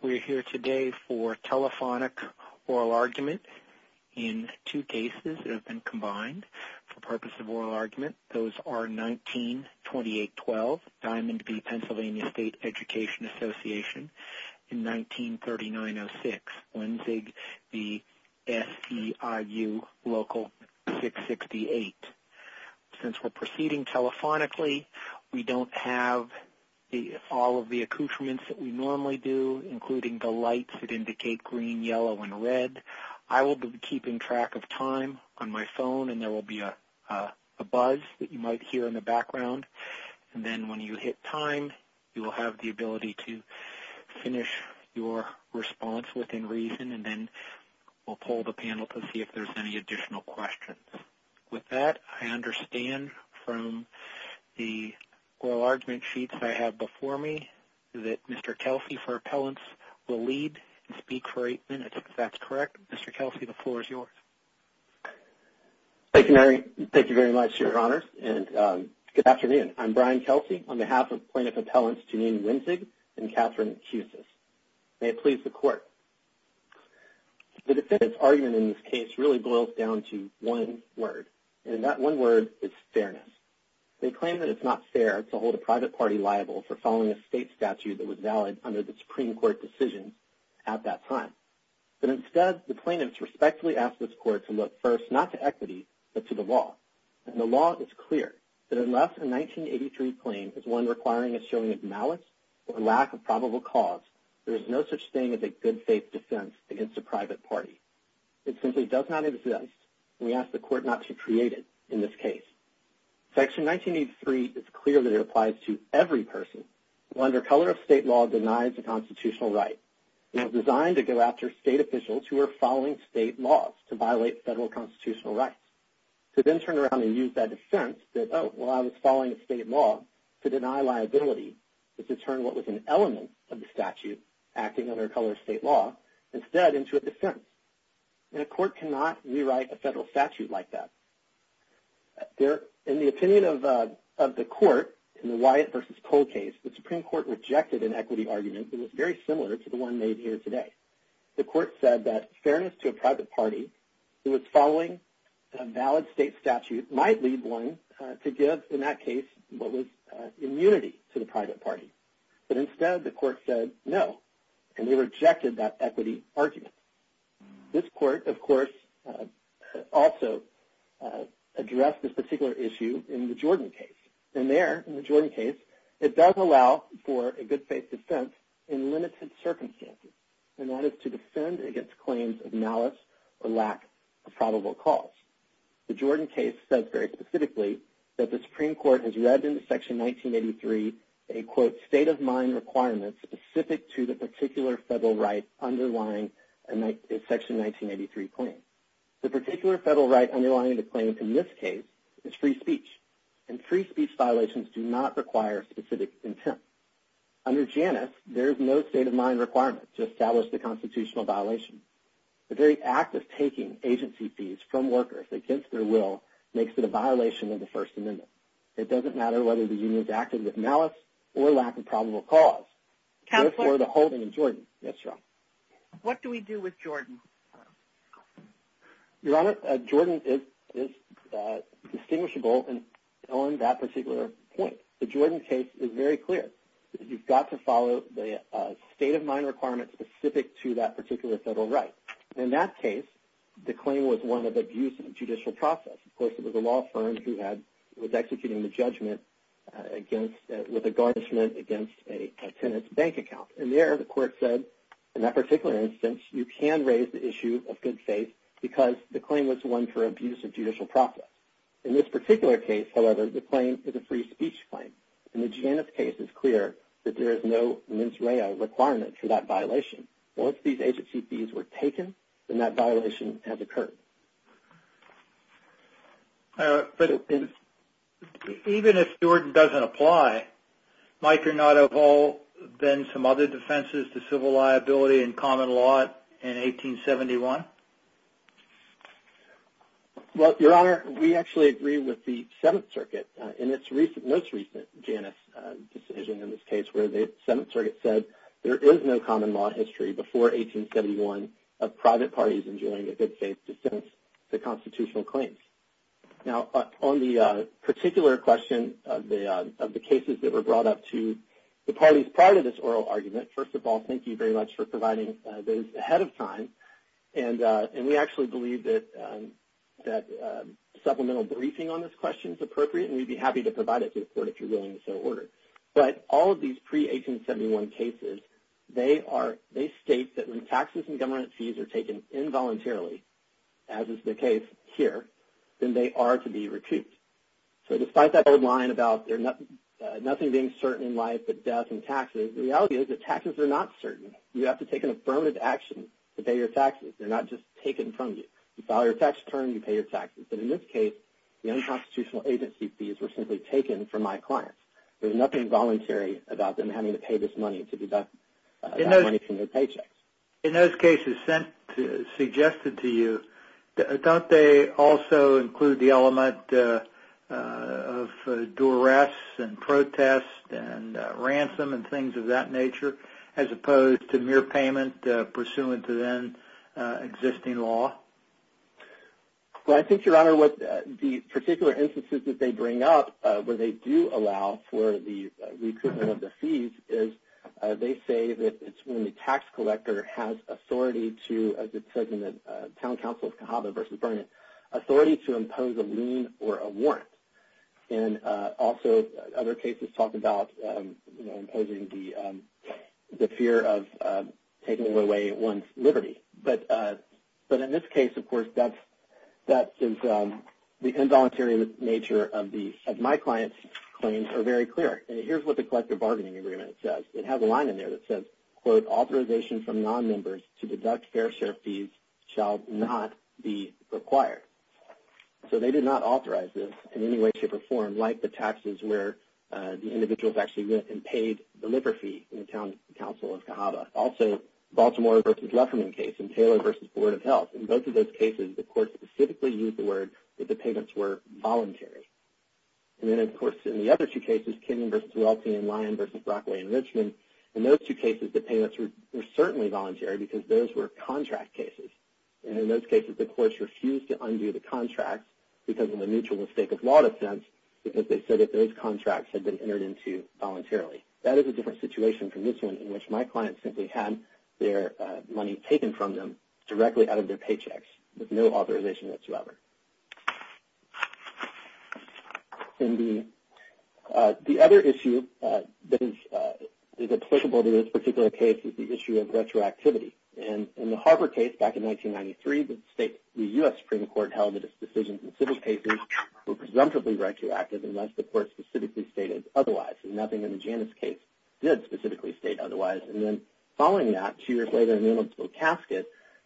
We're here today for telephonic oral argument in two cases that have been combined for purpose of oral argument. Those are 19-2812 Diamond v. PA State Education Association in 1939-06, Wenzig v. SEIU Local 668. Since we're proceeding telephonically, we don't have all of the information, including the lights that indicate green, yellow, and red. I will be keeping track of time on my phone, and there will be a buzz that you might hear in the background. Then when you hit time, you will have the ability to finish your response within reason, and then we'll poll the panel to see if there's any additional questions. With that, I understand from the oral argument sheets that I have before me that Mr. Kelsey for appellants will lead and speak for eight minutes. If that's correct, Mr. Kelsey, the floor is yours. Thank you very much, Your Honors, and good afternoon. I'm Brian Kelsey on behalf of plaintiff appellants Janine Wenzig and Catherine Kusis. May it please the Court. The defendant's argument in this case really boils down to one word, and that one word is fairness. They claim that it's not fair to hold a private party liable for following a state statute that was valid under the Supreme Court decision at that time. But instead, the plaintiffs respectfully ask this Court to look first not to equity, but to the law, and the law is clear that unless a 1983 claim is one requiring a showing of malice or a lack of probable cause, there is no such thing as a good faith defense against a private party. It simply does not exist, and we ask the Court not to create it in this case. Section 1983 is clear that it applies to every person who under color of state law denies a constitutional right, and it's designed to go after state officials who are following state laws to violate federal constitutional rights. To then turn around and use that defense that, oh, well, I was following a state law to deny liability is to turn what was an element of the statute acting under color of state law instead into a defense, and a court cannot rewrite a federal statute like that. In the opinion of the Court in the Wyatt v. Cole case, the Supreme Court rejected an equity argument that was very similar to the one made here today. The Court said that fairness to a private party who was following a valid state statute might lead one to give, in that case, what was immunity to the private party, but instead the equity argument. This Court, of course, also addressed this particular issue in the Jordan case, and there, in the Jordan case, it does allow for a good faith defense in limited circumstances, and that is to defend against claims of malice or lack of probable cause. The Jordan case says very specifically that the Supreme Court has read into Section 1983 a, quote, state of mind requirement specific to the particular federal right underlying a Section 1983 claim. The particular federal right underlying the claim in this case is free speech, and free speech violations do not require specific intent. Under Janus, there is no state of mind requirement to establish the constitutional violation. The very act of taking agency fees from workers against their will makes it a violation of the First Amendment. It doesn't matter whether the union is acting with malice or lack of probable cause. Therefore, the holding in Jordan. What do we do with Jordan? Your Honor, Jordan is distinguishable on that particular point. The Jordan case is very clear. You've got to follow the state of mind requirement specific to that particular federal right. In that case, the claim was one of abuse in the judicial process. Of course, it was a law firm who was executing the judgment with a garnishment against a tenant's bank account. There, the court said, in that particular instance, you can raise the issue of good faith because the claim was one for abuse of judicial process. In this particular case, however, the claim is a free speech claim. In the Janus case, it's clear that there is no mens rea requirement for that violation. Once these agency fees were taken, that violation has occurred. Even if Jordan doesn't apply, might there not have been some other defenses to civil liability and common law in 1871? Well, Your Honor, we actually agree with the Seventh Circuit in its most recent Janus decision in this case where the Seventh Circuit said there is no common law history before 1871 of private parties enjoying a good faith defense to constitutional claims. Now, on the particular question of the cases that were brought up to the parties prior to this oral argument, first of all, thank you very much for providing those ahead of time. We actually believe that supplemental briefing on this question is appropriate, and we'd be happy to address that. In all of these pre-1871 cases, they state that when taxes and government fees are taken involuntarily, as is the case here, then they are to be recouped. So despite that old line about nothing being certain in life but death and taxes, the reality is that taxes are not certain. You have to take an affirmative action to pay your taxes. They're not just taken from you. You file your tax return, you pay your taxes. But in this case, the unconstitutional agency fees were simply taken from my clients. There's nothing voluntary about them having to pay this money to deduct money from their paychecks. In those cases suggested to you, don't they also include the element of duress and protest and ransom and things of that nature, as opposed to mere payment pursuant to then existing law? Well, I think, Your Honor, the particular instances that they bring up where they do allow for the recoupment of the fees is they say that it's when the tax collector has authority to, as it says in the Town Council of Cahaba v. Vernon, authority to impose a lien or a warrant. And also other cases talk about imposing the fear of taking away one's liberty. But in this case, of course, that is the involuntary nature of my client's claims are very clear. And here's what the Collective Bargaining Agreement says. It has a line in there that says, quote, authorization from nonmembers to deduct fair share fees shall not be required. So they did not authorize this in any way, shape, or form like the taxes where the individuals actually went and paid the liver fee in the Town Council of Cahaba. Also, Baltimore v. Lefferman case and Taylor v. Board of Health. In both of those cases, the court specifically used the word that the payments were voluntary. And then, of course, in the other two cases, Kenyon v. Welty and Lyon v. Brockway and Richmond, in those two cases, the payments were certainly voluntary because those were contract cases. And in those cases, the courts refused to undo the contracts because of the mutual mistake of law defense because they said that those contracts had been entered into voluntarily. That is a different situation from this one in which my client simply had their money taken from them directly out of their paychecks with no authorization whatsoever. The other issue that is applicable to this particular case is the issue of retroactivity. And in the Harper case back in 1993, the U.S. Supreme Court held that its decisions in civil cases were presumptively retroactive unless the court specifically stated otherwise. And nothing in the Janus case did specifically state otherwise. And then following that, two years later in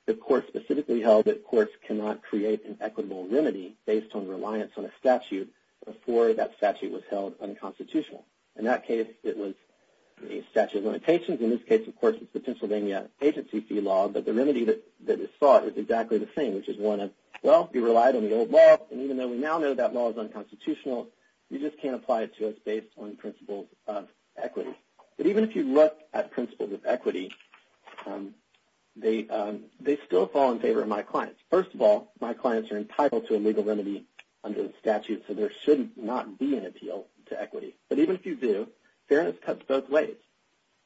the court specifically held that courts cannot create an equitable remedy based on reliance on a statute before that statute was held unconstitutional. In that case, it was a statute of limitations. In this case, of course, it's the Pennsylvania agency fee law. But the remedy that is sought is exactly the same, which is one of, well, you relied on the old law. And even though we now know that law is unconstitutional, you just can't apply it to us based on principles of equity. But even if you look at principles of equity, they still fall in favor of my clients. First of all, my clients are entitled to a legal remedy under the statute, so there should not be an appeal to equity. But even if you do, fairness cuts both ways.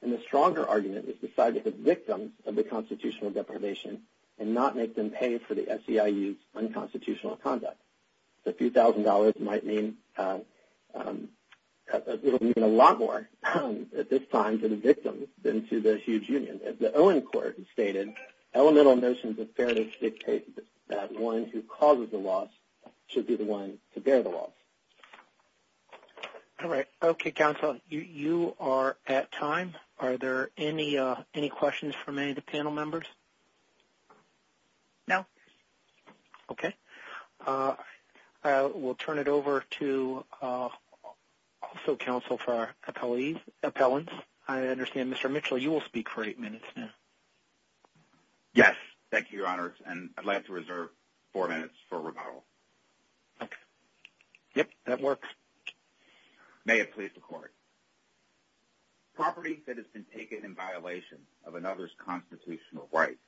And the stronger argument is decided that victims of the constitutional deprivation and not make them pay for the SEIU's unconstitutional conduct. A few thousand dollars might mean a lot more at this time to the victims than to the huge union. As the Owen Court has stated, elemental notions of fairness dictate that one who causes the loss should be the one to bear the loss. All right. Okay, counsel, you are at time. Are there any questions from any of the panel members? No. Okay. We'll turn it over to also counsel for our appellants. I understand, Mr. Mitchell, you will speak for eight minutes now. Yes. Thank you, your honors. And I'd like to reserve four minutes for rebuttal. Okay. Yep. That works. May it please the court. Properties that has been taken in violation of another's constitutional rights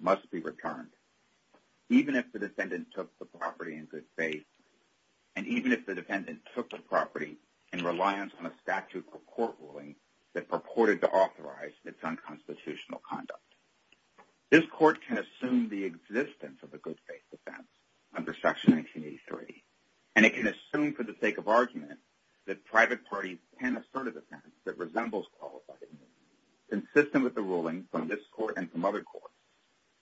must be returned, even if the defendant took the property in good faith, and even if the defendant took the property in reliance on a statute or court ruling that purported to authorize its unconstitutional conduct. This court can assume the existence of a good faith defense under Section 1983, and it can assume for the sake of argument that private parties can assert a defense that resembles qualified immunity, consistent with the ruling from this court and from other courts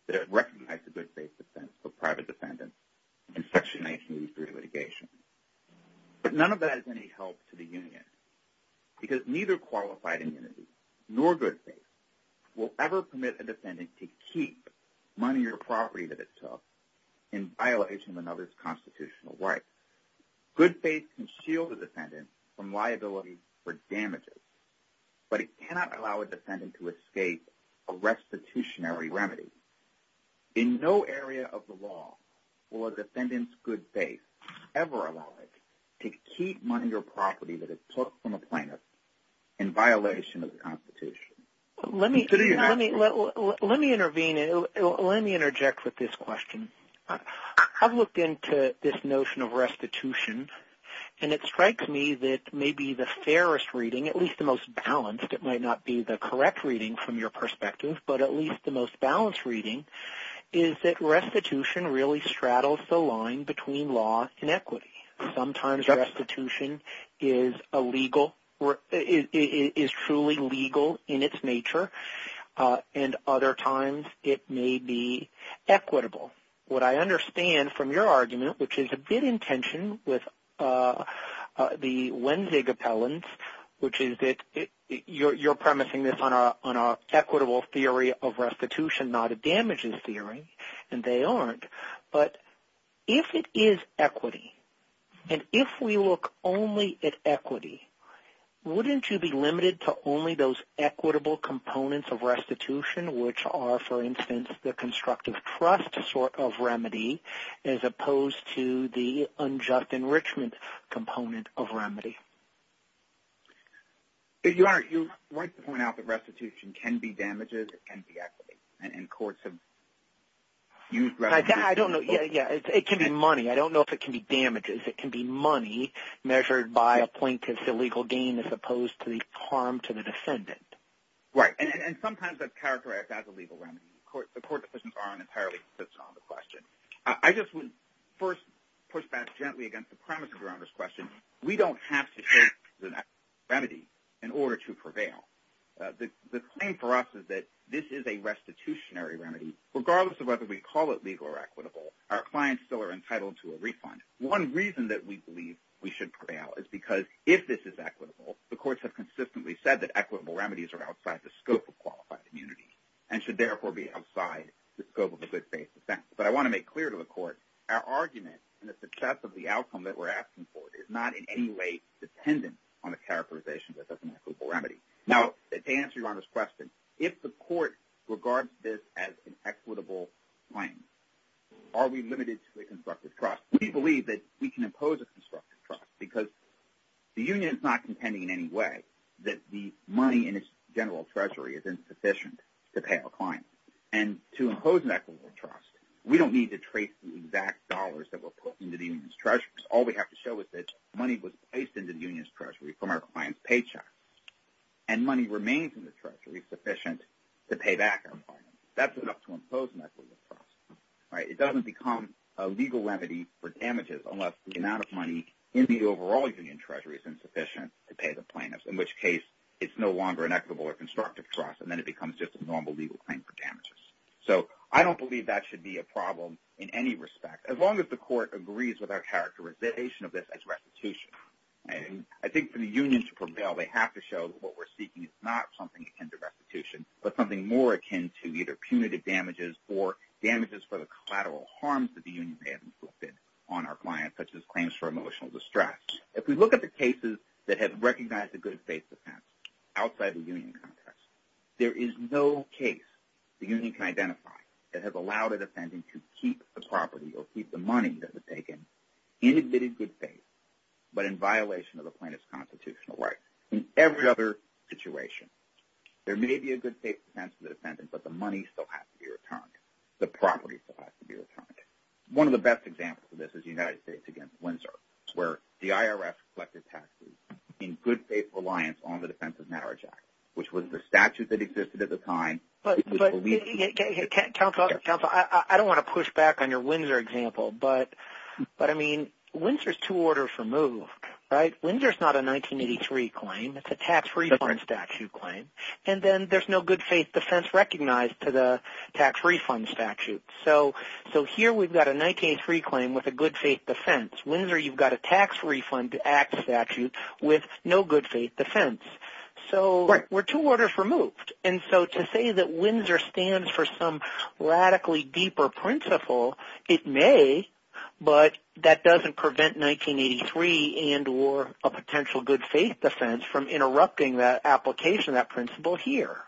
that recognize a good faith defense for private defendants in Section 1983 litigation. But none of that is any help to the union, because neither qualified immunity nor good faith will ever permit a defendant to keep money or property that it took in violation of another's constitutional rights. Good faith can shield a defendant from liability for damages, but it cannot allow a defendant to escape a restitutionary remedy. In no area of the law will a defendant's good faith ever allow it to keep money or property that it took from a plaintiff in violation of the notion of restitution. And it strikes me that maybe the fairest reading, at least the most balanced, it might not be the correct reading from your perspective, but at least the most balanced reading is that restitution really straddles the line between law and equity. Sometimes restitution is truly legal in its nature, and other times it may be a bit in tension with the Wenzig appellants, which is that you're premising this on our equitable theory of restitution, not a damages theory, and they aren't. But if it is equity, and if we look only at equity, wouldn't you be limited to only those equitable components of the unjust enrichment component of remedy? Your Honor, you're right to point out that restitution can be damages, it can be equity, and courts have used restitution... I don't know. Yeah, yeah. It can be money. I don't know if it can be damages. It can be money measured by a plaintiff's illegal gain as opposed to the harm to the defendant. Right. And sometimes that's characterized as a legal remedy. The court decisions aren't entirely consistent on the question. I just would first push back gently against the premise of Your Honor's question. We don't have to take the remedy in order to prevail. The claim for us is that this is a restitutionary remedy. Regardless of whether we call it legal or equitable, our clients still are entitled to a refund. One reason that we believe we should prevail is because if this is equitable, the courts have consistently said that equitable remedies are outside the scope of a good faith defense. But I want to make clear to the court, our argument and the success of the outcome that we're asking for is not in any way dependent on the characterization that that's an equitable remedy. Now, to answer Your Honor's question, if the court regards this as an equitable claim, are we limited to a constructive trust? We believe that we can impose a constructive trust because the union is not contending in any way that the And to impose an equitable trust, we don't need to trace the exact dollars that were put into the union's treasury. All we have to show is that money was placed into the union's treasury from our client's paychecks. And money remains in the treasury sufficient to pay back our client. That's enough to impose an equitable trust. It doesn't become a legal remedy for damages unless the amount of money in the overall union treasury is insufficient to pay the plaintiffs, in which case it's no longer an equitable or constructive trust. And then it becomes just a normal legal claim for damages. So I don't believe that should be a problem in any respect, as long as the court agrees with our characterization of this as restitution. And I think for the union to prevail, they have to show that what we're seeking is not something akin to restitution, but something more akin to either punitive damages or damages for the collateral harms that the union may have inflicted on our client, such as claims for emotional distress. If we look at the cases that have the union can identify that have allowed a defendant to keep the property or keep the money that was taken in admitted good faith, but in violation of the plaintiff's constitutional rights. In every other situation, there may be a good faith defense for the defendant, but the money still has to be returned. The property still has to be returned. One of the best examples of this is the United States against Windsor, where the IRS collected taxes in good faith reliance on the Defense of Marriage Act, which was the statute that existed at the time. But Councilor, I don't want to push back on your Windsor example, but I mean, Windsor's two orders removed, right? Windsor's not a 1983 claim, it's a tax refund statute claim. And then there's no good faith defense recognized to the tax refund statute. So here we've got a 1983 claim with a good faith defense. Windsor, you've got a tax refund act statute with no good defense. So we're two orders removed. And so to say that Windsor stands for some radically deeper principle, it may, but that doesn't prevent 1983 and or a potential good faith defense from interrupting that application, that principle here.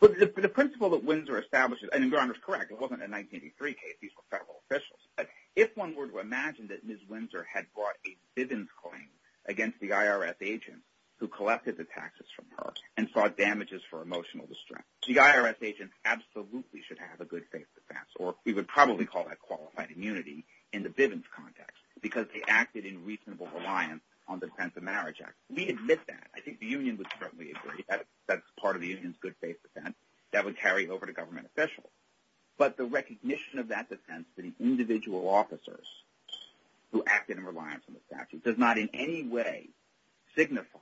But the principle that Windsor establishes, and you're correct, it wasn't a 1983 case, these were federal officials. But if one were to imagine that Ms. Windsor had brought a Bivens claim against the IRS agent who collected the taxes from her and sought damages for emotional distress, the IRS agent absolutely should have a good faith defense, or we would probably call that qualified immunity in the Bivens context, because they acted in reasonable reliance on the Defense of Marriage Act. We admit that. I think the union would certainly agree that that's part of the union's good faith defense that would carry over to government officials. But the recognition of that defense to the individual officers who acted in reliance on the statute does not in any way signify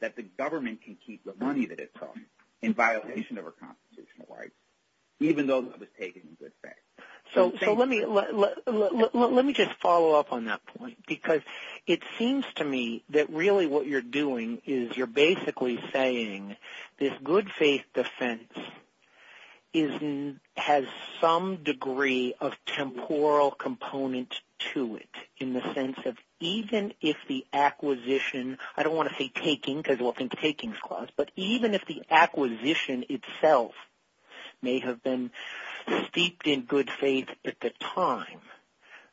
that the government can keep the money that it took in violation of our constitutional rights, even though it was taken in good faith. So let me just follow up on that point, because it seems to me that really what you're doing is you're basically saying this good faith defense has some degree of temporal component to it, in the sense of even if the acquisition, I don't want to say taking because we'll think taking clause, but even if the acquisition itself may have been steeped in good faith at the time,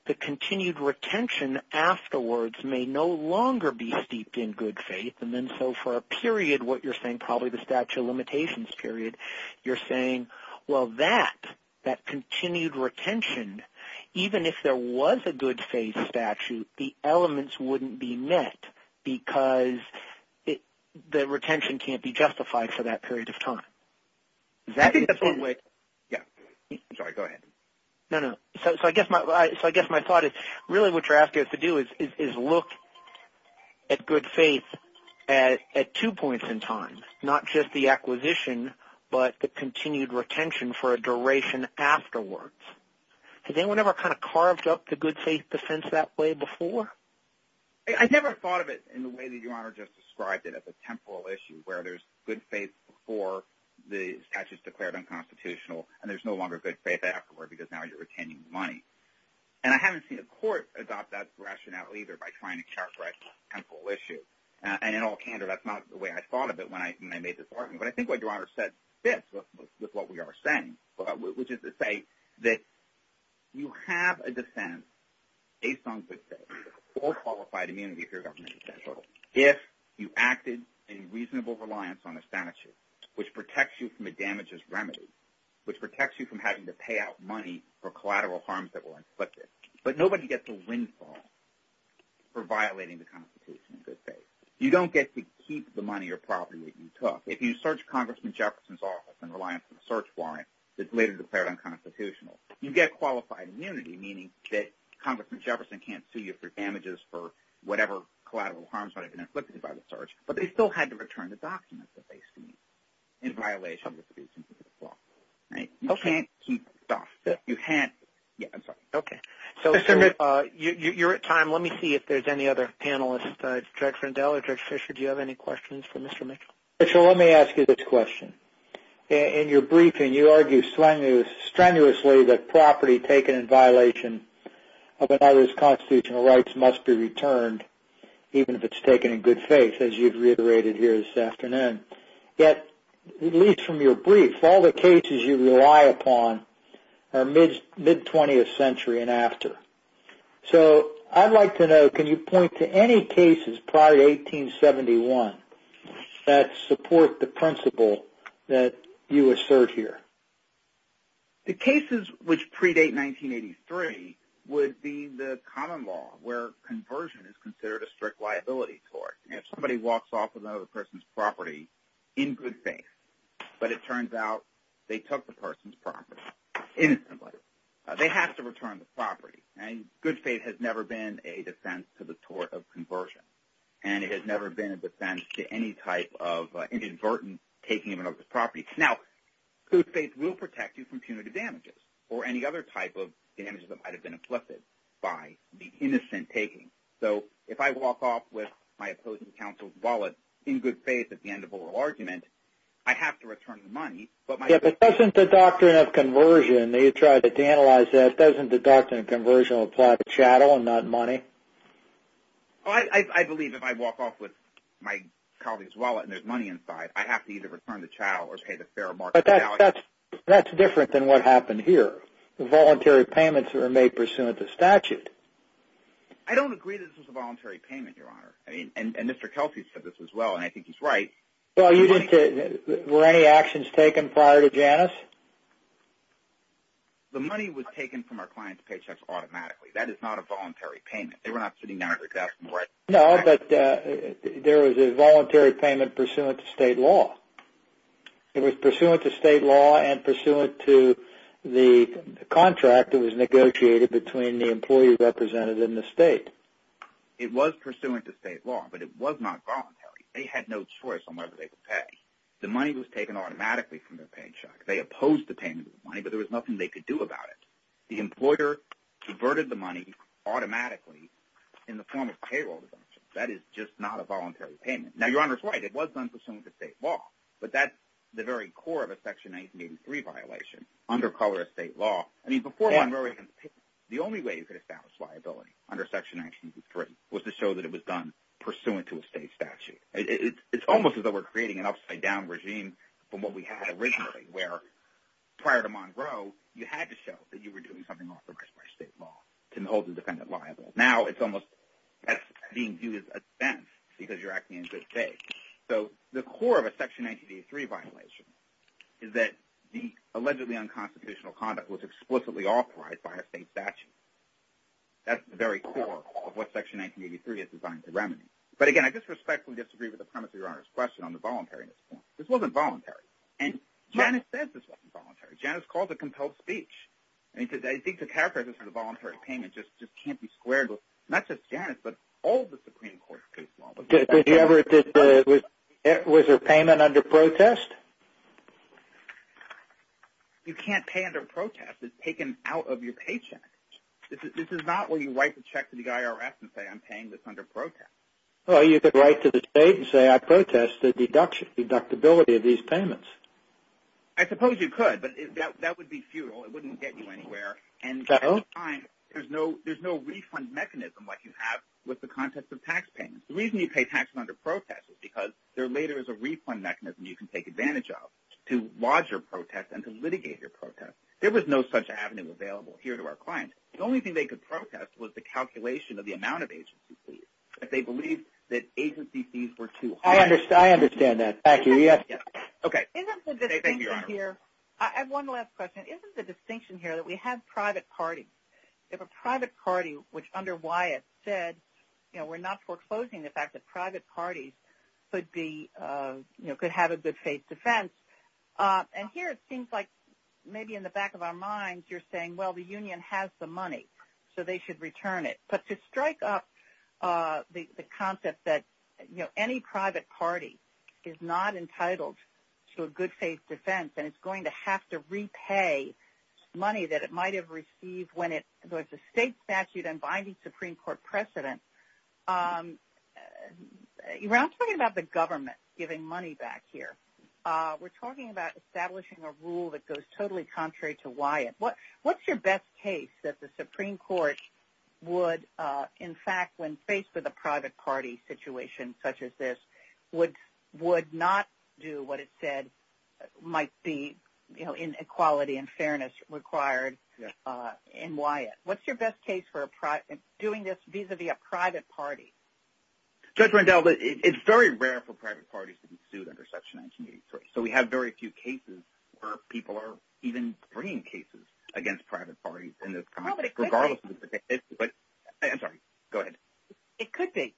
the continued retention afterwards may no longer be steeped in good faith. And then so for a period, what you're saying, probably the statute of limitations period, you're saying, well that continued retention, even if there was a good faith statute, the elements wouldn't be met because the retention can't be justified for that period of time. I think that's one way. Yeah, I'm sorry, go ahead. No, no. So I guess my thought is really what you're asking us to do is look at good faith at two points in time, not just the acquisition, but the continued retention for a duration afterwards. Has anyone ever kind of carved up the good faith defense that way before? I never thought of it in the way that the temporal issue where there's good faith before the statute is declared unconstitutional and there's no longer good faith afterward because now you're retaining the money. And I haven't seen a court adopt that rationale either by trying to characterize temporal issues. And in all candor, that's not the way I thought of it when I made this argument. But I think what your Honor said fits with what we are saying, which is to say that you have a reasonable reliance on a statute, which protects you from a damages remedy, which protects you from having to pay out money for collateral harms that were inflicted. But nobody gets a windfall for violating the Constitution in good faith. You don't get to keep the money or property that you took. If you search Congressman Jefferson's office and reliance on a search warrant that's later declared unconstitutional, you get qualified immunity, meaning that Congressman Jefferson can't sue you for damages for whatever collateral harms might have been inflicted. So you're at time. Let me see if there's any other panelists. Director Rendell or Director Fischer, do you have any questions for Mr. Mitchell? Mitchell, let me ask you this question. In your briefing, you argue strenuously that property taken in violation of another's constitutional rights must be returned, even if it's taken in good faith, as you've reiterated here this afternoon. Yet, at least from your brief, all the cases you rely upon are mid-20th century and after. So I'd like to know, can you point to any cases prior to 1871 that support the principle that you assert here? The cases which predate 1983 would be the common law, where conversion is considered a strict liability tort. If somebody walks off with another person's property in good faith, but it turns out they took the person's property innocently, they have to return the property. And good faith has never been a defense to the tort of conversion. And it has never been a defense to any type of inadvertent taking of another's property. Now, good faith will protect you from punitive damages or any other type of damages that might have been inflicted by the innocent taking. So if I walk off with my opposing counsel's wallet in good faith at the end of oral argument, I have to return the money. Yeah, but doesn't the doctrine of conversion, you tried to analyze that, doesn't the doctrine of conversion apply to chattel and not money? Oh, I believe if I walk off with my colleague's wallet and there's money inside, I have to either return the chattel or pay the fair market. But that's different than what happened here. Voluntary payments were made pursuant to statute. I don't agree that this was a voluntary payment, Your Honor. I mean, and Mr. Kelsey said this as well, and I think he's right. Well, you didn't, were any actions taken prior to Janus? The money was taken from our client's paychecks automatically. That is not a voluntary payment. No, but there was a voluntary payment pursuant to state law. It was pursuant to state law and to the contract that was negotiated between the employee representative and the state. It was pursuant to state law, but it was not voluntary. They had no choice on whether they could pay. The money was taken automatically from their paycheck. They opposed the payment of the money, but there was nothing they could do about it. The employer converted the money automatically in the form of payroll deductions. That is just not a voluntary payment. Now, Your Honor is right. It was done pursuant to state law, but that's the very core of a Section 1983 violation under color of state law. I mean, before Monroe, the only way you could establish liability under Section 1983 was to show that it was done pursuant to a state statute. It's almost as though we're creating an upside down regime from what we had originally, where prior to Monroe, you had to show that you were doing something authorized by state law to hold the defendant liable. Now, it's almost as being viewed as a defense because you're acting in good faith. So, the core of a Section 1983 violation is that the allegedly unconstitutional conduct was explicitly authorized by a state statute. That's the very core of what Section 1983 is designed to remediate. But again, I disrespectfully disagree with the premise of Your Honor's question on the voluntariness point. This wasn't voluntary. And Janice says this wasn't voluntary. Janice calls it compelled speech. I think to characterize this as a voluntary payment just can't be squared not just Janice, but all the Supreme Court cases. Was her payment under protest? You can't pay under protest. It's taken out of your paycheck. This is not where you write the check to the IRS and say, I'm paying this under protest. Well, you could write to the state and say, I protest the deductibility of these payments. I suppose you could, but that would be futile. It would be futile. The reason you pay taxes under protest is because there later is a refund mechanism you can take advantage of to lodge your protest and to litigate your protest. There was no such avenue available here to our clients. The only thing they could protest was the calculation of the amount of agency fees. They believed that agency fees were too high. I understand that. I have one last question. Isn't the distinction here that we have private parties? If a private party, which under Wyatt said, we're not foreclosing the fact that private parties could have a good faith defense. Here it seems like maybe in the back of our minds, you're saying, well, the union has the money, so they should return it. To strike up the concept that any private party is not entitled to a good faith defense and it's going to have to repay money that it might have received when it was a state statute and binding Supreme Court precedent. I'm talking about the government giving money back here. We're talking about establishing a rule that goes totally contrary to Wyatt. What's your best case that the Supreme Court would, in fact, when faced with a private party situation such as this, would not do what it said might be inequality and fairness required in Wyatt? What's your best case for doing this vis-a-vis a private party? Judge Rendell, it's very rare for private parties to be sued under Section 1983, so we have very few cases where people are even bringing cases against private parties. It could be.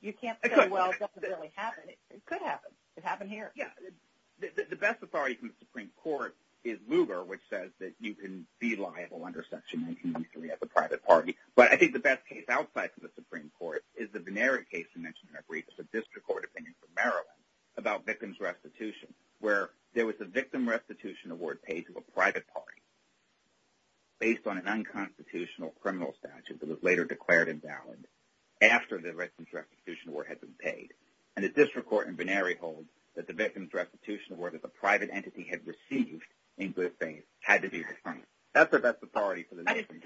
You can't say, well, it doesn't really happen. It could happen. It doesn't. The best authority from the Supreme Court is Lugar, which says that you can be liable under Section 1983 as a private party, but I think the best case outside of the Supreme Court is the Benary case you mentioned in that brief. It's a district court opinion from Maryland about victim's restitution where there was a victim restitution award paid to a private party based on an unconstitutional criminal statute that was later declared invalid after the victim's restitution award had been paid, and the district court in Benary holds that the victim's restitution award that the private entity had received in good faith had to be returned. That's the best authority for the nation.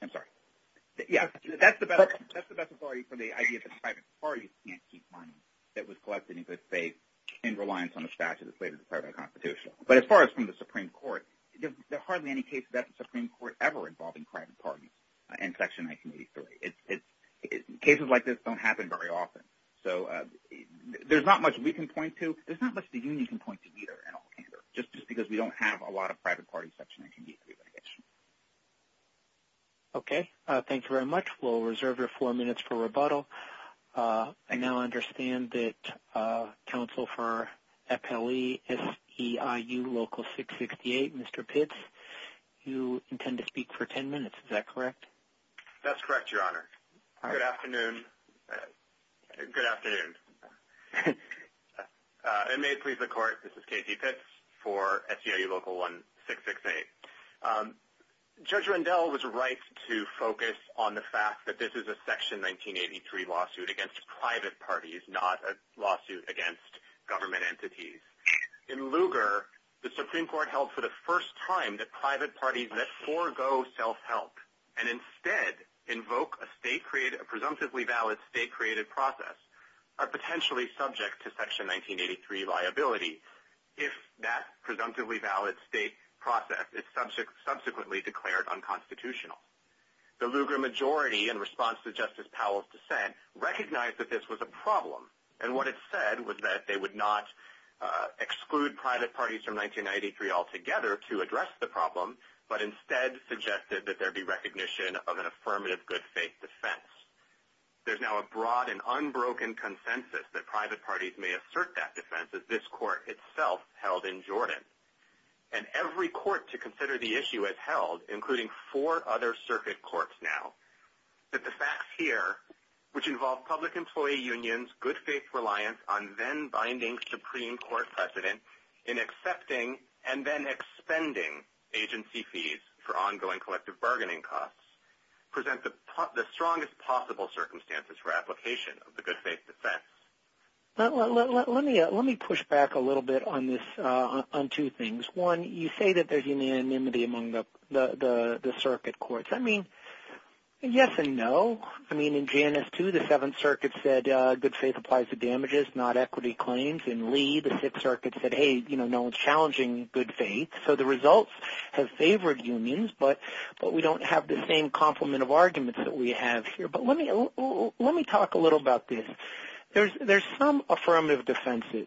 I'm sorry. Yeah, that's the best authority for the idea that private parties can't keep money that was collected in good faith in reliance on a statute that's later declared unconstitutional, but as far as from the Supreme Court, there are hardly any cases at the Supreme Court ever involving private parties in Section 1983. Cases like this don't happen very often, so there's not much we can point to. There's not much the union can point to either in all candor, just because we don't have a lot of private party sections in 1983 litigation. Okay, thanks very much. We'll reserve your four minutes for rebuttal. I now understand that counsel for FLE SEIU Local 668, Mr. Pitts, you intend to speak for 10 minutes. Is that correct? That's correct, Your Honor. Good afternoon. Good afternoon. And may it please the Court, this is K.T. Pitts for SEIU Local 1668. Judge Rendell was right to focus on the fact that this is a Section 1983 lawsuit against private parties, not a lawsuit against government entities. In Lugar, the Supreme Court held for the first time that private parties that forego self-help and instead invoke a presumptively valid state-created process are potentially subject to Section 1983 liability if that presumptively valid state process is subsequently declared unconstitutional. The Lugar majority, in response to Justice Powell's dissent, recognized that this was a problem. And what it said was that they would not exclude private parties from 1993 altogether to address the problem, but instead suggested that there be recognition of an affirmative good faith defense. There's now a broad and unbroken consensus that private parties may assert that defense as this Court itself held in Jordan. And every Court to consider the issue has held, including four other circuit courts now, that the facts here, which involve public employee unions, good faith reliance on binding Supreme Court precedent in accepting and then expending agency fees for ongoing collective bargaining costs, present the strongest possible circumstances for application of the good faith defense. Let me push back a little bit on this, on two things. One, you say that there's unanimity among the circuit courts. I mean, yes and no. I mean, in Janus 2, the Seventh Circuit said good faith applies to damages, not equity claims. In Lee, the Sixth Circuit said, hey, you know, no one's challenging good faith. So the results have favored unions, but we don't have the same complement of arguments that we have here. But let me talk a little about this. There's some affirmative defenses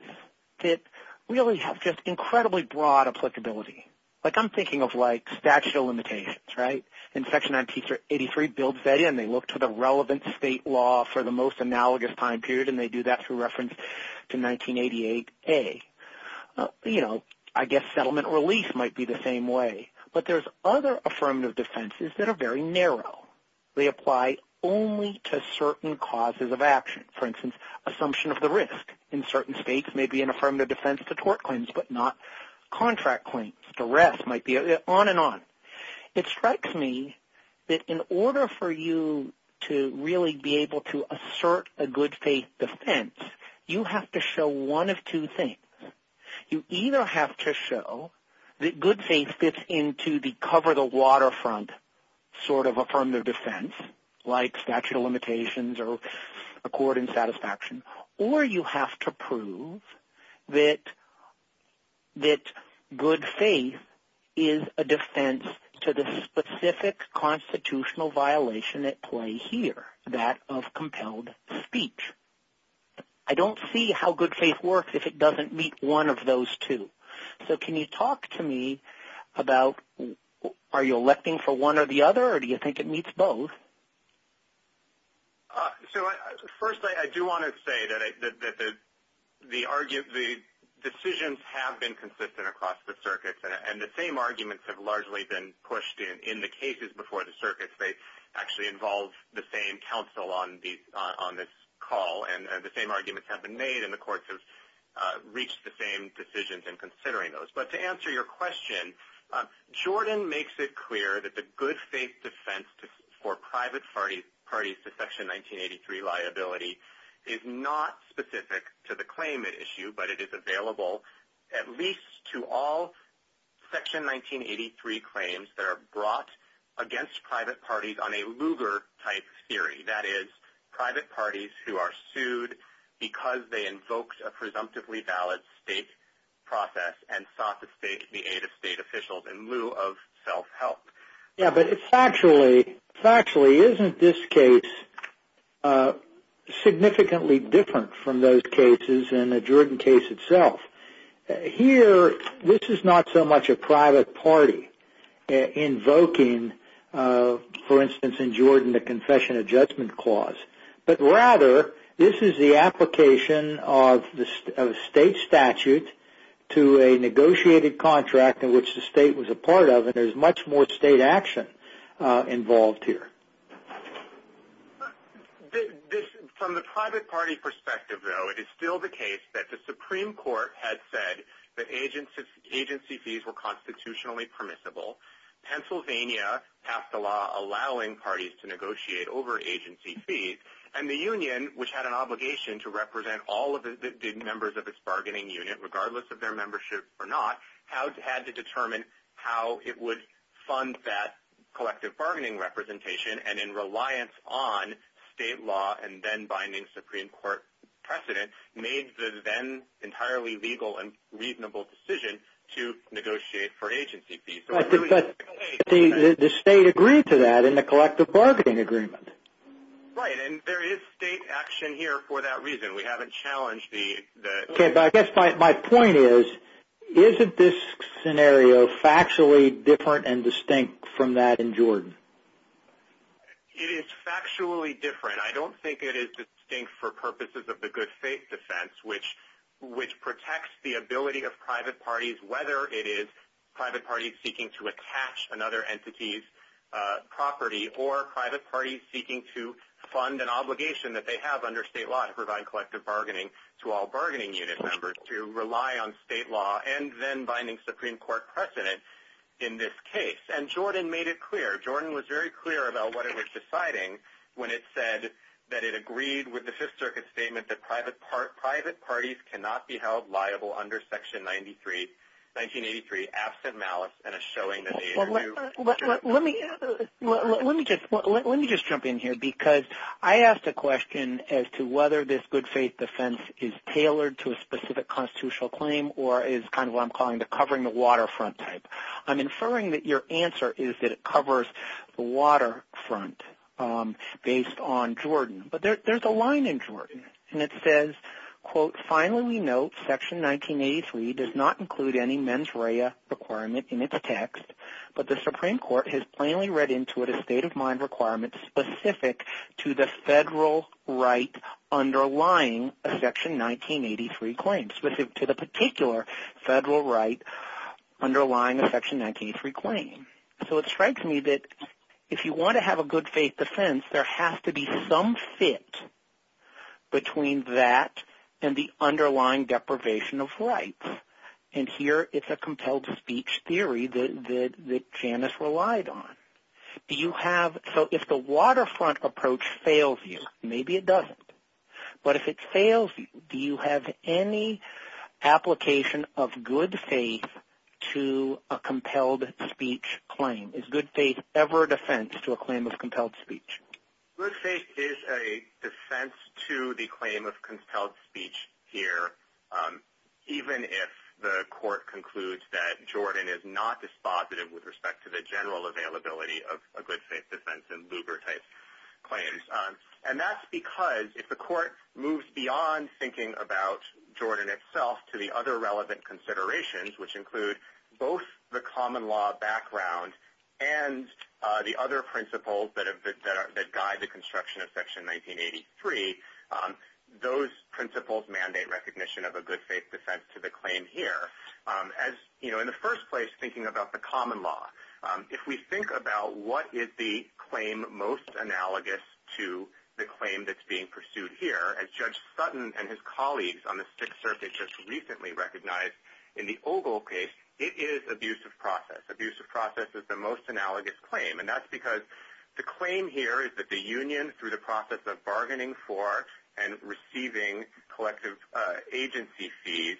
that really have just incredibly broad applicability. Like, I'm thinking of, like, statute of limitations, right? In Section 983, it builds that in. They look to relevant state law for the most analogous time period, and they do that through reference to 1988a. You know, I guess settlement relief might be the same way. But there's other affirmative defenses that are very narrow. They apply only to certain causes of action. For instance, assumption of the risk in certain states may be an affirmative defense to tort claims, but not contract claims. The rest might be on and on. It strikes me that in order for you to really be able to assert a good faith defense, you have to show one of two things. You either have to show that good faith fits into the cover-the-waterfront sort of affirmative defense, like statute of limitations, or you have to show that good faith is a defense to the specific constitutional violation at play here, that of compelled speech. I don't see how good faith works if it doesn't meet one of those two. So can you talk to me about, are you electing for one or the other, or do you think it meets both? First, I do want to say that the decisions have been consistent across the circuits, and the same arguments have largely been pushed in the cases before the circuits. They actually involve the same counsel on this call, and the same arguments have been made, and the courts have reached the same decisions in considering those. But to answer your question, Jordan makes it clear that the good faith defense for private parties to Section 1983 liability is not specific to the claim at issue, but it is available at least to all Section 1983 claims that are brought against private parties on a Lugar-type theory, that is, private parties who are sued because they invoked a presumptively valid state process and sought the aid of state statutes. This is not so much a private party invoking, for instance in Jordan, the Confession of Judgment Clause, but rather this is the application of a state statute to a negotiated contract in which the state was a part of, and there is much more state action involved here. From the private party perspective, though, it is still the case that the Supreme Court had said that agency fees were constitutionally permissible. Pennsylvania passed a law allowing parties to negotiate over agency fees, and the union, which had an obligation to represent all of the members of its bargaining unit, regardless of collective bargaining representation and in reliance on state law and then-binding Supreme Court precedent, made the then entirely legal and reasonable decision to negotiate for agency fees. But the state agreed to that in the collective bargaining agreement. Right, and there is state action here for that reason. We haven't challenged the... My point is, isn't this scenario factually different and distinct from that in Jordan? It is factually different. I don't think it is distinct for purposes of the good faith defense, which protects the ability of private parties, whether it is private parties seeking to attach another entity's property or private parties seeking to fund an obligation that they have under state law to provide collective bargaining to all bargaining unit members to rely on state law and then-binding Supreme Court precedent in this case. And Jordan made it clear. Jordan was very clear about what it was deciding when it said that it agreed with the Fifth Circuit statement that private parties cannot be held liable under Section 1983, absent malice and a whether this good faith defense is tailored to a specific constitutional claim or is kind of what I'm calling the covering the waterfront type. I'm inferring that your answer is that it covers the waterfront based on Jordan. But there's a line in Jordan, and it says, quote, Finally, we note Section 1983 does not include any mens rea requirement in its text, but the Supreme Court has plainly read into it a state of mind requirement specific to the federal right underlying a Section 1983 claim, specific to the particular federal right underlying a Section 1983 claim. So it strikes me that if you want to have a good faith defense, there has to be some fit between that and the underlying deprivation of rights. And here, it's a compelled speech theory that Janice relied on. Do you have, so if the waterfront approach fails you, maybe it doesn't. But if it fails you, do you have any application of good faith to a compelled speech claim? Is good faith ever a defense to a claim of compelled speech? Good faith is a defense to the claim of compelled speech here, even if the court concludes that Jordan is not dispositive with respect to the general availability of a good faith defense in Lugar-type claims. And that's because if the court moves beyond thinking about Jordan itself to the other relevant considerations, which include both the common law background and the other principles that guide the construction of Section 1983, those principles mandate recognition of a good faith defense to the claim here. As, you know, in the first place, thinking about the common law, if we think about what is the claim most analogous to the claim that's being pursued here, as Judge Sutton and his colleagues on the Sixth Circuit just recently recognized in the Ogle case, it is abusive process. Abusive process is the most analogous claim, and that's because the claim here is that the union, through the process of bargaining for and receiving collective agency fees,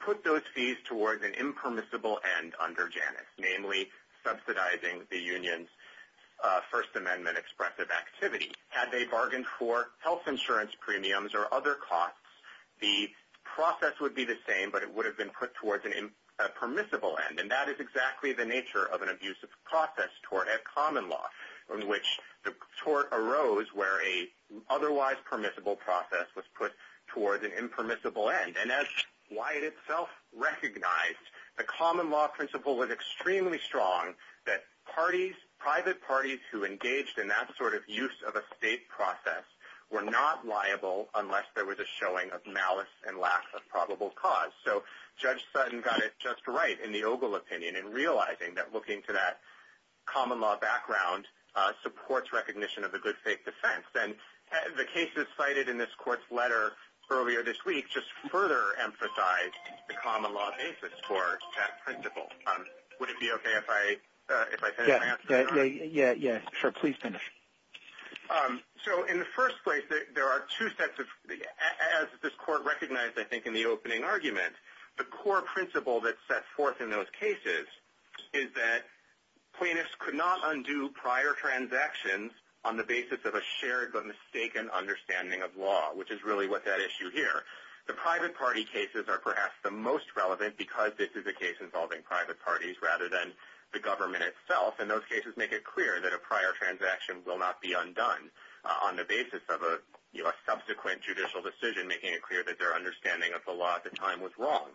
put those fees towards an impermissible end under Janus, namely subsidizing the union's First Amendment expressive activity. Had they bargained for health insurance premiums or other costs, the process would be the same, but it would have been put towards a permissible end. And that is exactly the nature of an abusive process tort at common law, in which the tort arose where a otherwise permissible process was put towards an impermissible end. And as Wyatt itself recognized, the common law principle was extremely strong that parties, private parties who engaged in that sort of use of a state process were not liable unless there was a showing of malice and lack of probable cause. So Judge Sutton got it right in the Ogle opinion in realizing that looking to that common law background supports recognition of the good faith defense. And the cases cited in this court's letter earlier this week just further emphasize the common law basis for that principle. Would it be okay if I finish? Yeah, yeah, sure. Please finish. So in the first place, there are two sets of, as this court recognized, I think, in the opening argument, the core principle that's set forth in those cases is that plaintiffs could not undo prior transactions on the basis of a shared but mistaken understanding of law, which is really what that issue here. The private party cases are perhaps the most relevant because this is a case involving private parties rather than the government itself. And those cases make it clear that a prior transaction will not be undone on the basis of a subsequent judicial decision, making it clear that their understanding of the law at the time was wrong.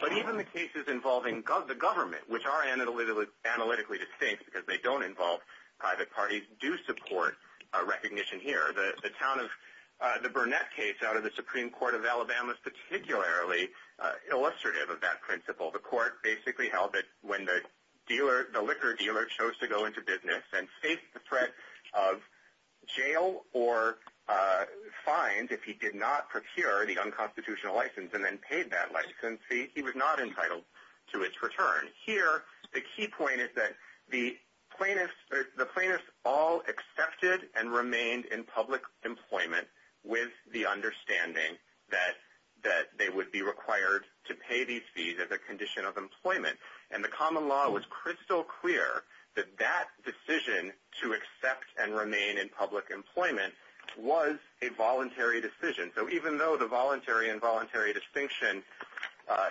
But even the cases involving the government, which are analytically distinct because they don't involve private parties, do support a recognition here. The Burnett case out of the Supreme Court of Alabama is particularly illustrative of that principle. The court basically held that when the liquor dealer chose to go into business and face the threat of jail or fines if he did not procure the unconstitutional license and then paid that license fee, he was not entitled to its return. Here, the key point is that the plaintiffs all accepted and remained in public employment with the understanding that they would be required to pay these fees as a condition of employment. And the common law was crystal clear that that accept and remain in public employment was a voluntary decision. So even though the voluntary and involuntary distinction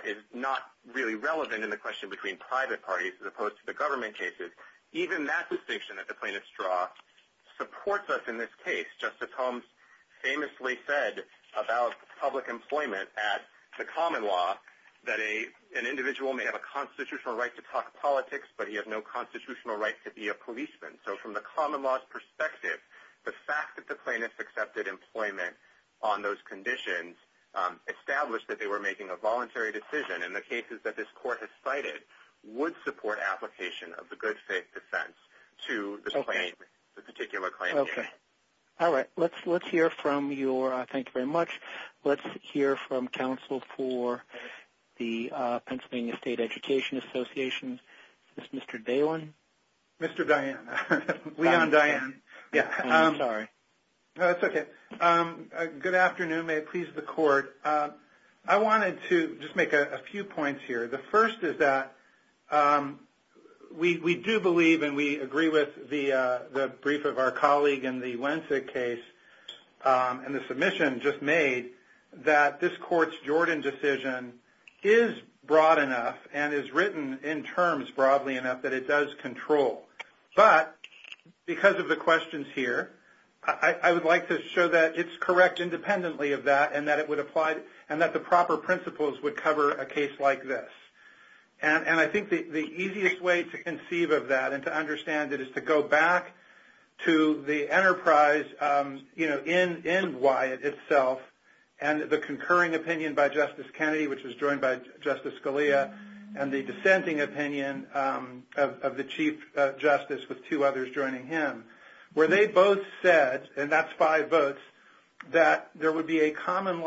is not really relevant in the question between private parties as opposed to the government cases, even that distinction that the plaintiffs draw supports us in this case. Justice Holmes famously said about public employment at the common law that an individual may have a constitutional right to talk politics, but he has no constitutional right to be a policeman. So from the common law's perspective, the fact that the plaintiffs accepted employment on those conditions established that they were making a voluntary decision. And the cases that this court has cited would support application of the good faith defense to this particular claim. All right. Let's hear from your... Thank you very much. Let's hear from counsel for the Pennsylvania State Education Association, Mr. Daylen. Mr. Daylen. Leon Daylen. I'm sorry. That's okay. Good afternoon. May it please the court. I wanted to just make a few points here. The first is that we do believe and we agree with the brief of our colleague in the Wencek case and the submission just made that this court's Jordan decision is broad enough and is written in terms broadly enough that it does control. But because of the questions here, I would like to show that it's correct independently of that and that it would apply and that the proper principles would cover a case like this. And I think the easiest way to conceive of that and to understand it is to go back to the enterprise in Wyatt itself and the concurring opinion by Justice Kennedy, which was joined by Justice Scalia, and the dissenting opinion of the Chief Justice with two others joining him, where they both said, and that's five votes, that there would be a common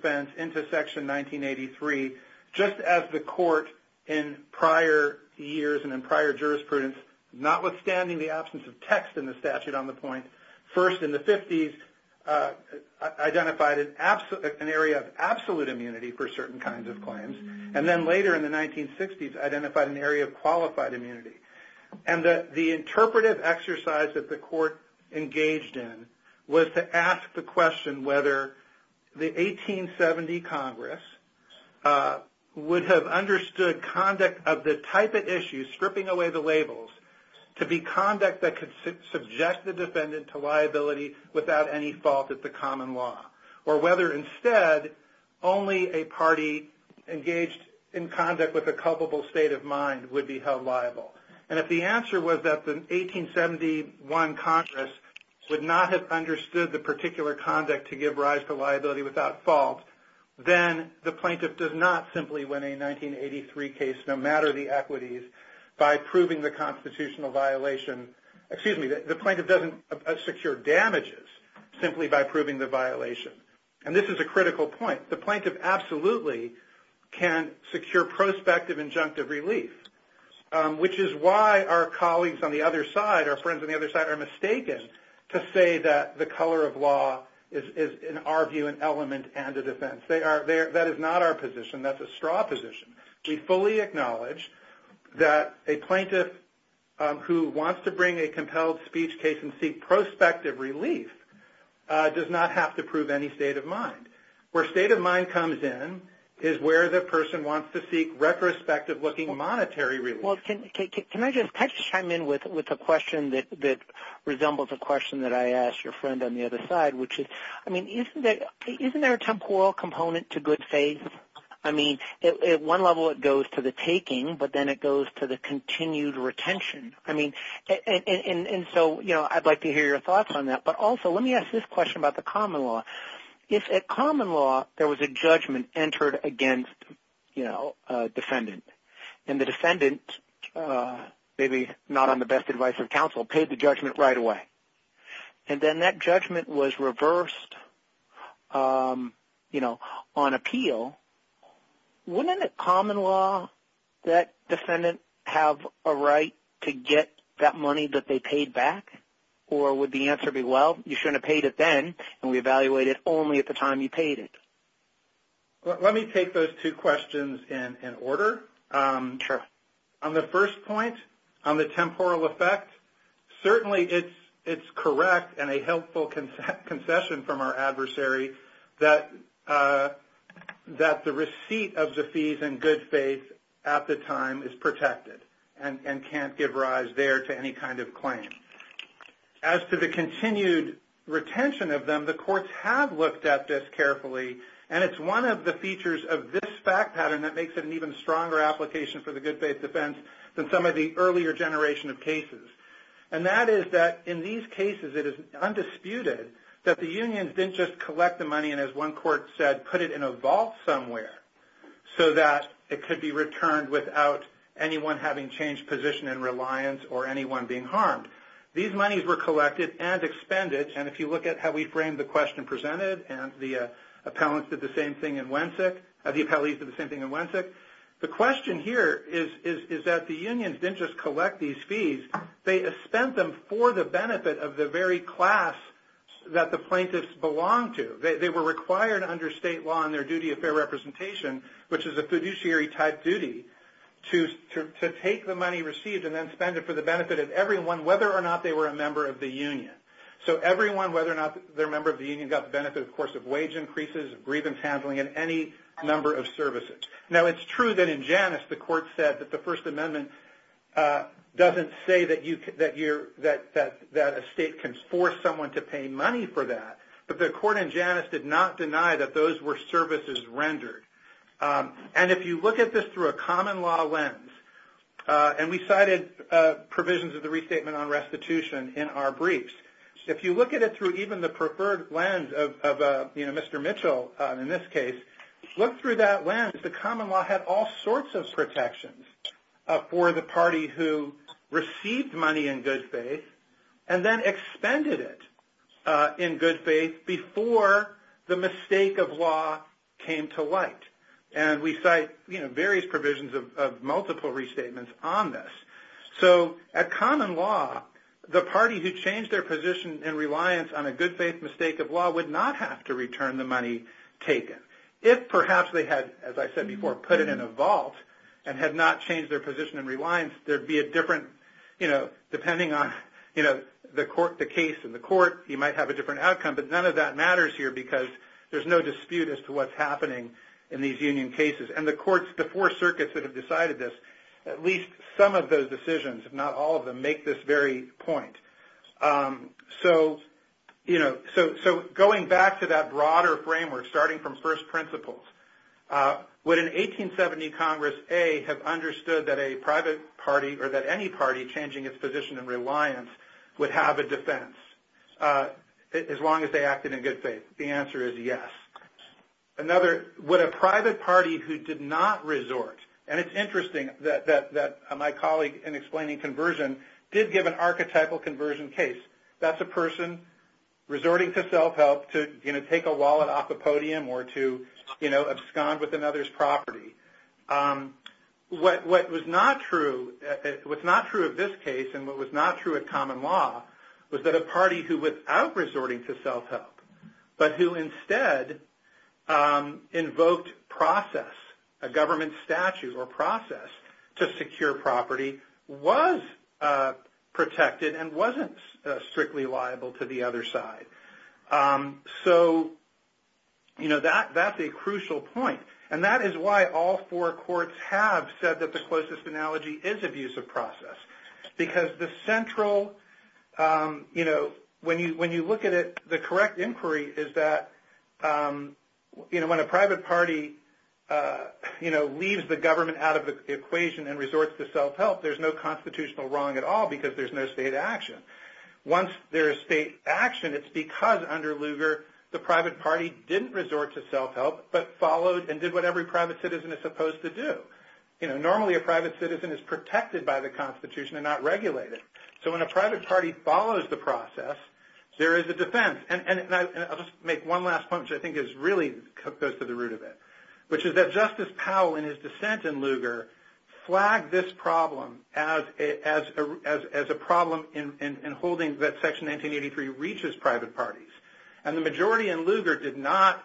defense into Section 1983, just as the court in prior years and in prior jurisprudence, notwithstanding the absence of text in the statute on the point, first in the 50s identified an area of absolute immunity for certain kinds of claims, and then later in the 1960s identified an area of qualified immunity. And the interpretive exercise that the court engaged in was to ask the question whether the 1870 Congress would have understood conduct of the type of issue, stripping away the labels, to be conduct that could subject the defendant to liability without any fault of the common law, or whether instead only a party engaged in conduct with a culpable state of mind would be held liable. And if the answer was that the 1871 Congress would not have understood the particular conduct to give rise to liability without fault, then the plaintiff does not simply win a 1983 case, no matter the equities, by proving the constitutional violation, excuse me, the plaintiff doesn't secure damages simply by proving the violation. And this is a critical point. The plaintiff absolutely can secure prospective injunctive relief, which is why our colleagues on the other side, our friends on the other side of law, is in our view an element and a defense. That is not our position, that's a straw position. We fully acknowledge that a plaintiff who wants to bring a compelled speech case and seek prospective relief does not have to prove any state of mind. Where state of mind comes in is where the person wants to seek retrospective-looking monetary relief. Well, can I just chime in with a question that resembles a question that I asked your friend on the other side, which is, I mean, isn't there a temporal component to good faith? I mean, at one level it goes to the taking, but then it goes to the continued retention. And so I'd like to hear your thoughts on that, but also let me ask this question about the common law. If at common law there was a judgment entered against a defendant, and the defendant, maybe not on the best advice of counsel, paid the judgment right away, and then that judgment was reversed on appeal, wouldn't it, common law, that defendant have a right to get that money that they paid back? Or would the answer be, well, you shouldn't have paid it then, and we evaluate it only at the time you paid it? Let me take those two questions in order. On the first point, on the temporal effect, certainly it's correct and a helpful concession from our adversary that the receipt of the fees in good faith at the time is protected and can't give the money that was there to any kind of claim. As to the continued retention of them, the courts have looked at this carefully, and it's one of the features of this fact pattern that makes it an even stronger application for the good faith defense than some of the earlier generation of cases. And that is that in these cases it is undisputed that the unions didn't just collect the money and, as one court said, put it in a vault somewhere so that it could be returned without anyone having changed position in reliance or anyone being harmed. These monies were collected and expended, and if you look at how we framed the question presented, and the appellees did the same thing in Wencek, the question here is that the unions didn't just collect these fees, they spent them for the benefit of the very class that the plaintiffs belonged to. They were required under state law in their duty of fair representation, which is a fiduciary type duty, to take the money received and then spend it for the benefit of everyone, whether or not they were a member of the union. So everyone, whether or not they're a member of the union, got the benefit, of course, of wage increases, of grievance handling, and any number of services. Now it's true that in Janus the court said that the services rendered. And if you look at this through a common law lens, and we cited provisions of the Restatement on Restitution in our briefs, if you look at it through even the preferred lens of, you know, Mr. Mitchell in this case, look through that lens. The common law had all sorts of issues, but the mistake of law came to light. And we cite, you know, various provisions of multiple restatements on this. So at common law, the party who changed their position and reliance on a good faith mistake of law would not have to return the money taken. If perhaps they had, as I said before, put it in a vault and had not changed their position and reliance, there'd be a different, you know, depending on, you know, the case in the court, there'd be a dispute as to what's happening in these union cases. And the courts, the four circuits that have decided this, at least some of those decisions, if not all of them, make this very point. So, you know, so going back to that broader framework, starting from first principles, would an 1870 Congress, A, have understood that a private party or that any party changing its position and reliance would have a defense as long as they another, would a private party who did not resort, and it's interesting that my colleague in explaining conversion did give an archetypal conversion case. That's a person resorting to self-help to, you know, take a wallet off the podium or to, you know, abscond with another's property. What was not true, what's not true of this case and what was not true at common law was that a party who, without resorting to self-help, but who instead invoked process, a government statute or process to secure property, was protected and wasn't strictly liable to the other side. So, you know, that's a crucial point. And that is why all four courts have said that the closest analogy is abuse of process. Because the central, you know, when you look at it, the correct inquiry is that, you know, when a private party, you know, leaves the government out of the equation and resorts to self-help, there's no constitutional wrong at all because there's no state action. Once there is state action, it's because under Lugar, the private party didn't resort to self-help but followed and did what every private citizen is supposed to do. You know, normally a private citizen is protected by the constitution and not regulated. So when a private party follows the process, there is a defense. And I'll just make one last point, which I think is really goes to the root of it, which is that Justice Powell in his dissent in Lugar flagged this problem as a problem in holding that Section 1983 reaches private parties. And the majority in Lugar did not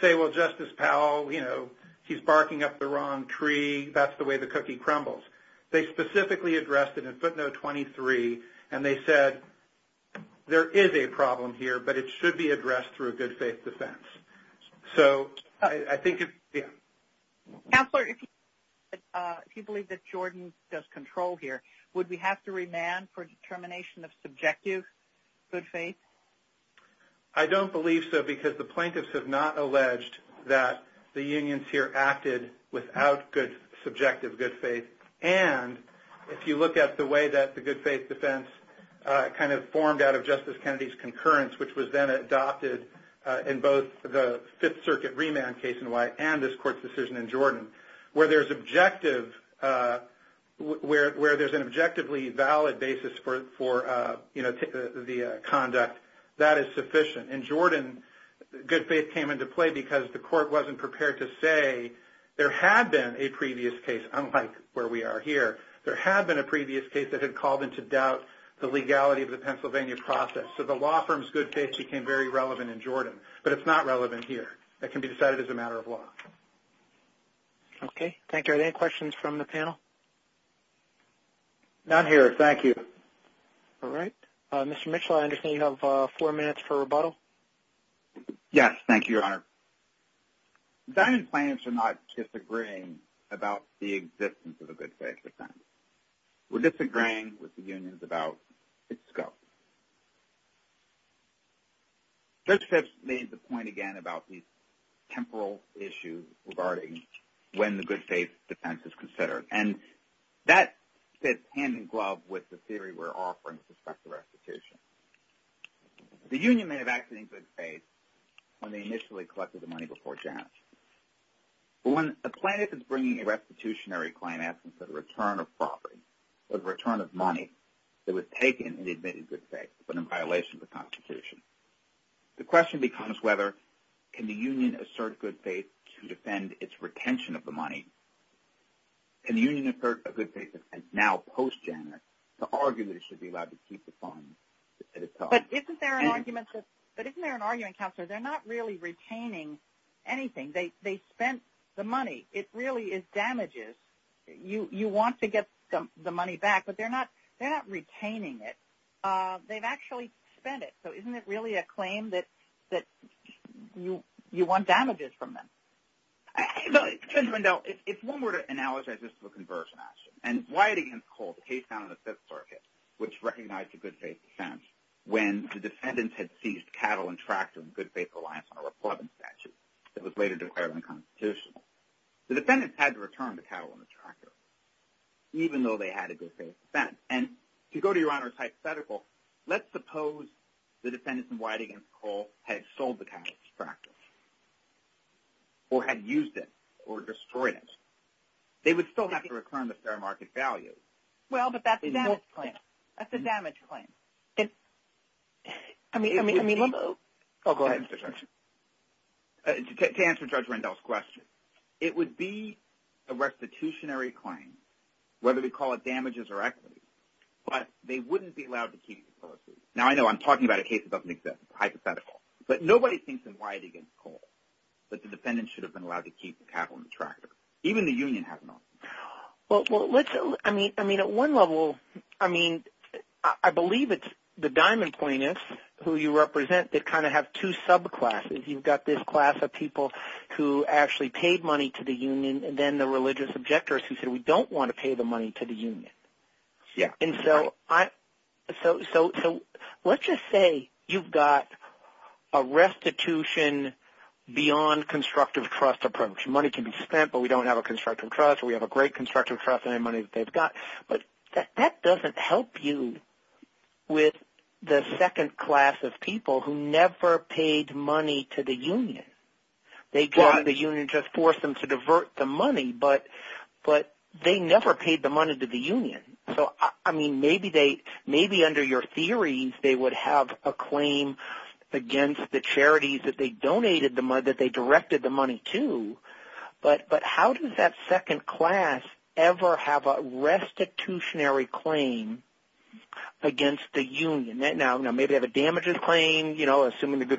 say, well, Justice Powell, you know, he's barking up the wrong tree, that's the way the cookie crumbles. They specifically addressed it in footnote 23 and they said, there is a problem here, but it should be addressed through a good faith defense. So I think, yeah. Counselor, if you believe that Jordan does control here, would we have to remand for determination of subjective good faith? I don't believe so because the plaintiffs have not alleged that the unions here acted without good subjective good faith. And if you look at the way that the good faith defense kind of formed out of Justice Kennedy's concurrence, which was then adopted in both the Fifth Circuit remand case in White and this conduct, that is sufficient. In Jordan, good faith came into play because the court wasn't prepared to say there had been a previous case, unlike where we are here, there had been a previous case that had called into doubt the legality of the Pennsylvania process. So the law firm's good faith became very relevant in Jordan, but it's not relevant here. That can be decided as a matter of law. Okay. Thank you. Are there any questions from the panel? Not here. Thank you. All right. Mr. Mitchell, I understand you have four minutes for rebuttal. Yes. Thank you, Your Honor. The Diamond plaintiffs are not disagreeing about the existence of a good faith defense. We're disagreeing with the unions about its scope. Judge Phipps made the point again about these temporal issues regarding when the good faith defense is considered. And that fits hand-in-glove with the theory we're offering with respect to restitution. The union may have acted in good faith when they initially collected the money before Janus. But when a plaintiff is bringing a restitutionary claim asking for the return of property or the return of money that was taken in the admitted good faith but in violation of the Constitution, the question becomes whether can the union assert good faith to defend its retention of the money? Can the union assert a good faith defense now post-Janus to argue that it should be allowed to keep the funds that it took? But isn't there an argument, Counselor, they're not really retaining anything. They spent the money. It really is damages. You want to get the money back, but they're not retaining it. They've actually spent it. So isn't it really a claim that you want damages from them? Judge Rendell, if one were to analogize this to a conversion action, and Wyatt v. Cole, the case found in the Fifth Circuit, which recognized a good faith defense, when the defendants had seized cattle and tractors in good faith reliance on a republican statute that was later declared unconstitutional, the defendants had to return the cattle and the tractors even though they had a good faith defense. And to go to Your Honor's hypothetical, let's suppose the defendants in Wyatt v. Cole had sold the cattle and the tractors or had used it or destroyed it. They would still have to return the fair market value. Well, but that's a damage claim. That's a damage claim. Go ahead, Mr. Judge. To answer Judge Rendell's question, it would be a restitutionary claim, whether we call it damages or equity, but they wouldn't be allowed to keep the policy. Now, I know I'm talking about a case that doesn't exist. It's a hypothetical. But nobody thinks in Wyatt v. Cole that the defendants should have been allowed to keep the cattle and the tractors. Even the union has an option. Well, I mean, at one level, I mean, I believe it's the Diamond Plaintiffs, who you represent, that kind of have two subclasses. You've got this class of people who actually paid money to the union, and then the religious objectors who said, we don't want to pay the money to the union. And so let's just say you've got a restitution beyond constructive trust approach. Money can be spent, but we don't have a constructive trust, or we have a great constructive trust in any money that they've got. But that doesn't help you with the second class of people who never paid money to the union. They go to the union and just force them to divert the money, but they never paid the money to the union. So, I mean, maybe under your theories, they would have a claim against the charities that they donated, that they directed the money to. But how does that second class ever have a restitutionary claim against the union? Now, maybe they have a damages claim, you know, assuming the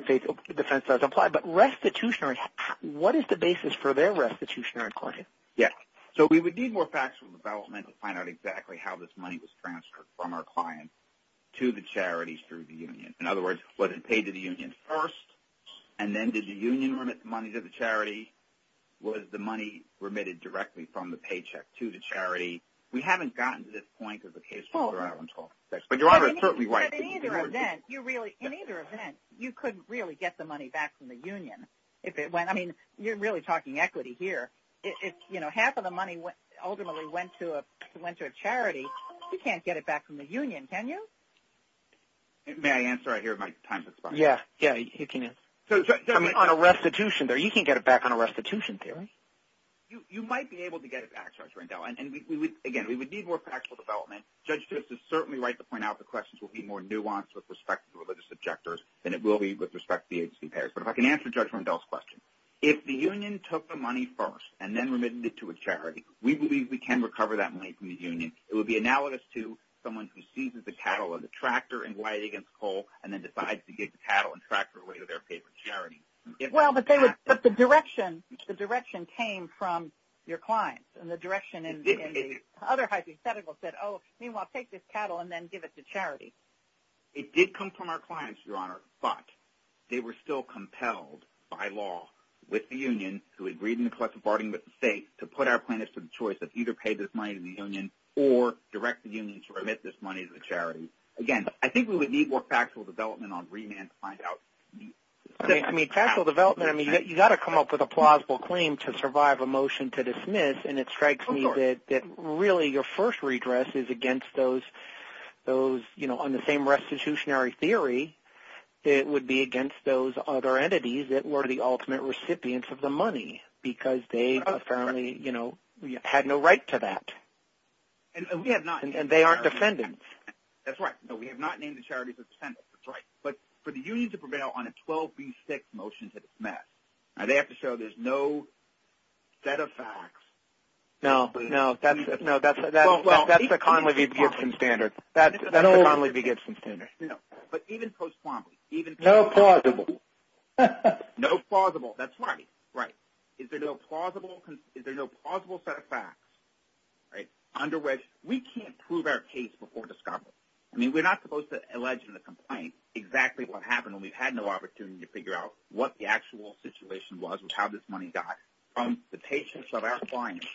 defense doesn't apply. But restitutionary, what is the basis for their restitutionary claim? Yes. So we would need more factual development to find out exactly how this money was transferred from our client to the charities through the union. In other words, was it paid to the union first, and then did the union remit the money to the charity? Was the money remitted directly from the paycheck to the charity? We haven't gotten to this point as a case where we're out on 12 sex. But Your Honor is certainly right. In either event, you couldn't really get the money back from the union. I mean, you're really talking equity here. Half of the money ultimately went to a charity. You can't get it back from the union, can you? May I answer? I hear my time's expiring. Yeah. Yeah, you can answer. I mean, on a restitution theory, you can't get it back on a restitution theory. You might be able to get it back, Judge Rendell. And, again, we would need more factual development. Judge, this is certainly right to point out the questions will be more nuanced with respect to the religious objectors than it will be with respect to the agency payers. But if I can answer Judge Rendell's question. If the union took the money first and then remitted it to a charity, we believe we can recover that money from the union. It would be analogous to someone who seizes the cattle or the tractor and glides against coal and then decides to give the cattle and tractor away to their favorite charity. Well, but the direction came from your clients. And the direction in the other hypothetical said, oh, meanwhile, take this cattle and then give it to charity. It did come from our clients, Your Honor, but they were still compelled by law with the union who agreed in the collective bargaining with the state to put our plaintiffs to the choice of either pay this money to the union or direct the union to remit this money to the charity. Again, I think we would need more factual development on remand to find out. I mean, factual development, I mean, you've got to come up with a plausible claim to survive a motion to dismiss, and it strikes me that really your first redress is against those, you know, on the same restitutionary theory, it would be against those other entities that were the ultimate recipients of the money because they apparently, you know, had no right to that. And they aren't defendants. That's right. No, we have not named the charities as defendants. That's right. But for the union to prevail on a 12B6 motion to dismiss, they have to show there's no set of facts. No, no. That's the Conley v. Gibson standard. That's the Conley v. Gibson standard. No, but even post-Quambley. No plausible. No plausible. That's right. Right. Is there no plausible set of facts under which we can't prove our case before discovery? I mean, we're not supposed to allege in the complaint exactly what happened when we've had no opportunity to figure out what the actual situation was with how this money got from the paychecks of our clients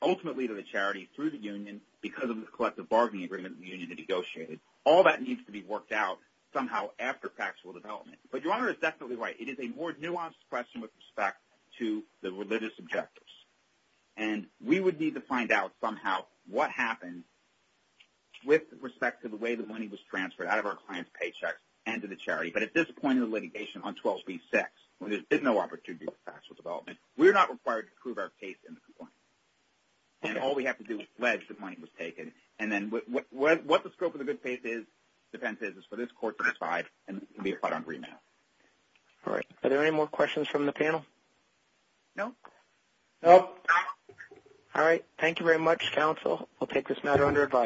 ultimately to the charity through the union because of the collective bargaining agreement the union had negotiated. All that needs to be worked out somehow after factual development. But your Honor is definitely right. It is a more nuanced question with respect to the religious objectives. And we would need to find out somehow what happened with respect to the way the money was transferred out of our clients' paychecks and to the charity. But at this point in the litigation on 12b-6, when there's been no opportunity for factual development, we're not required to prove our case in the complaint. And all we have to do is pledge that money was taken. And then what the scope of the defense is is for this court to decide and be applied on remand. All right. Are there any more questions from the panel? No. No. All right. Thank you very much, counsel. I'll take this matter under advisory.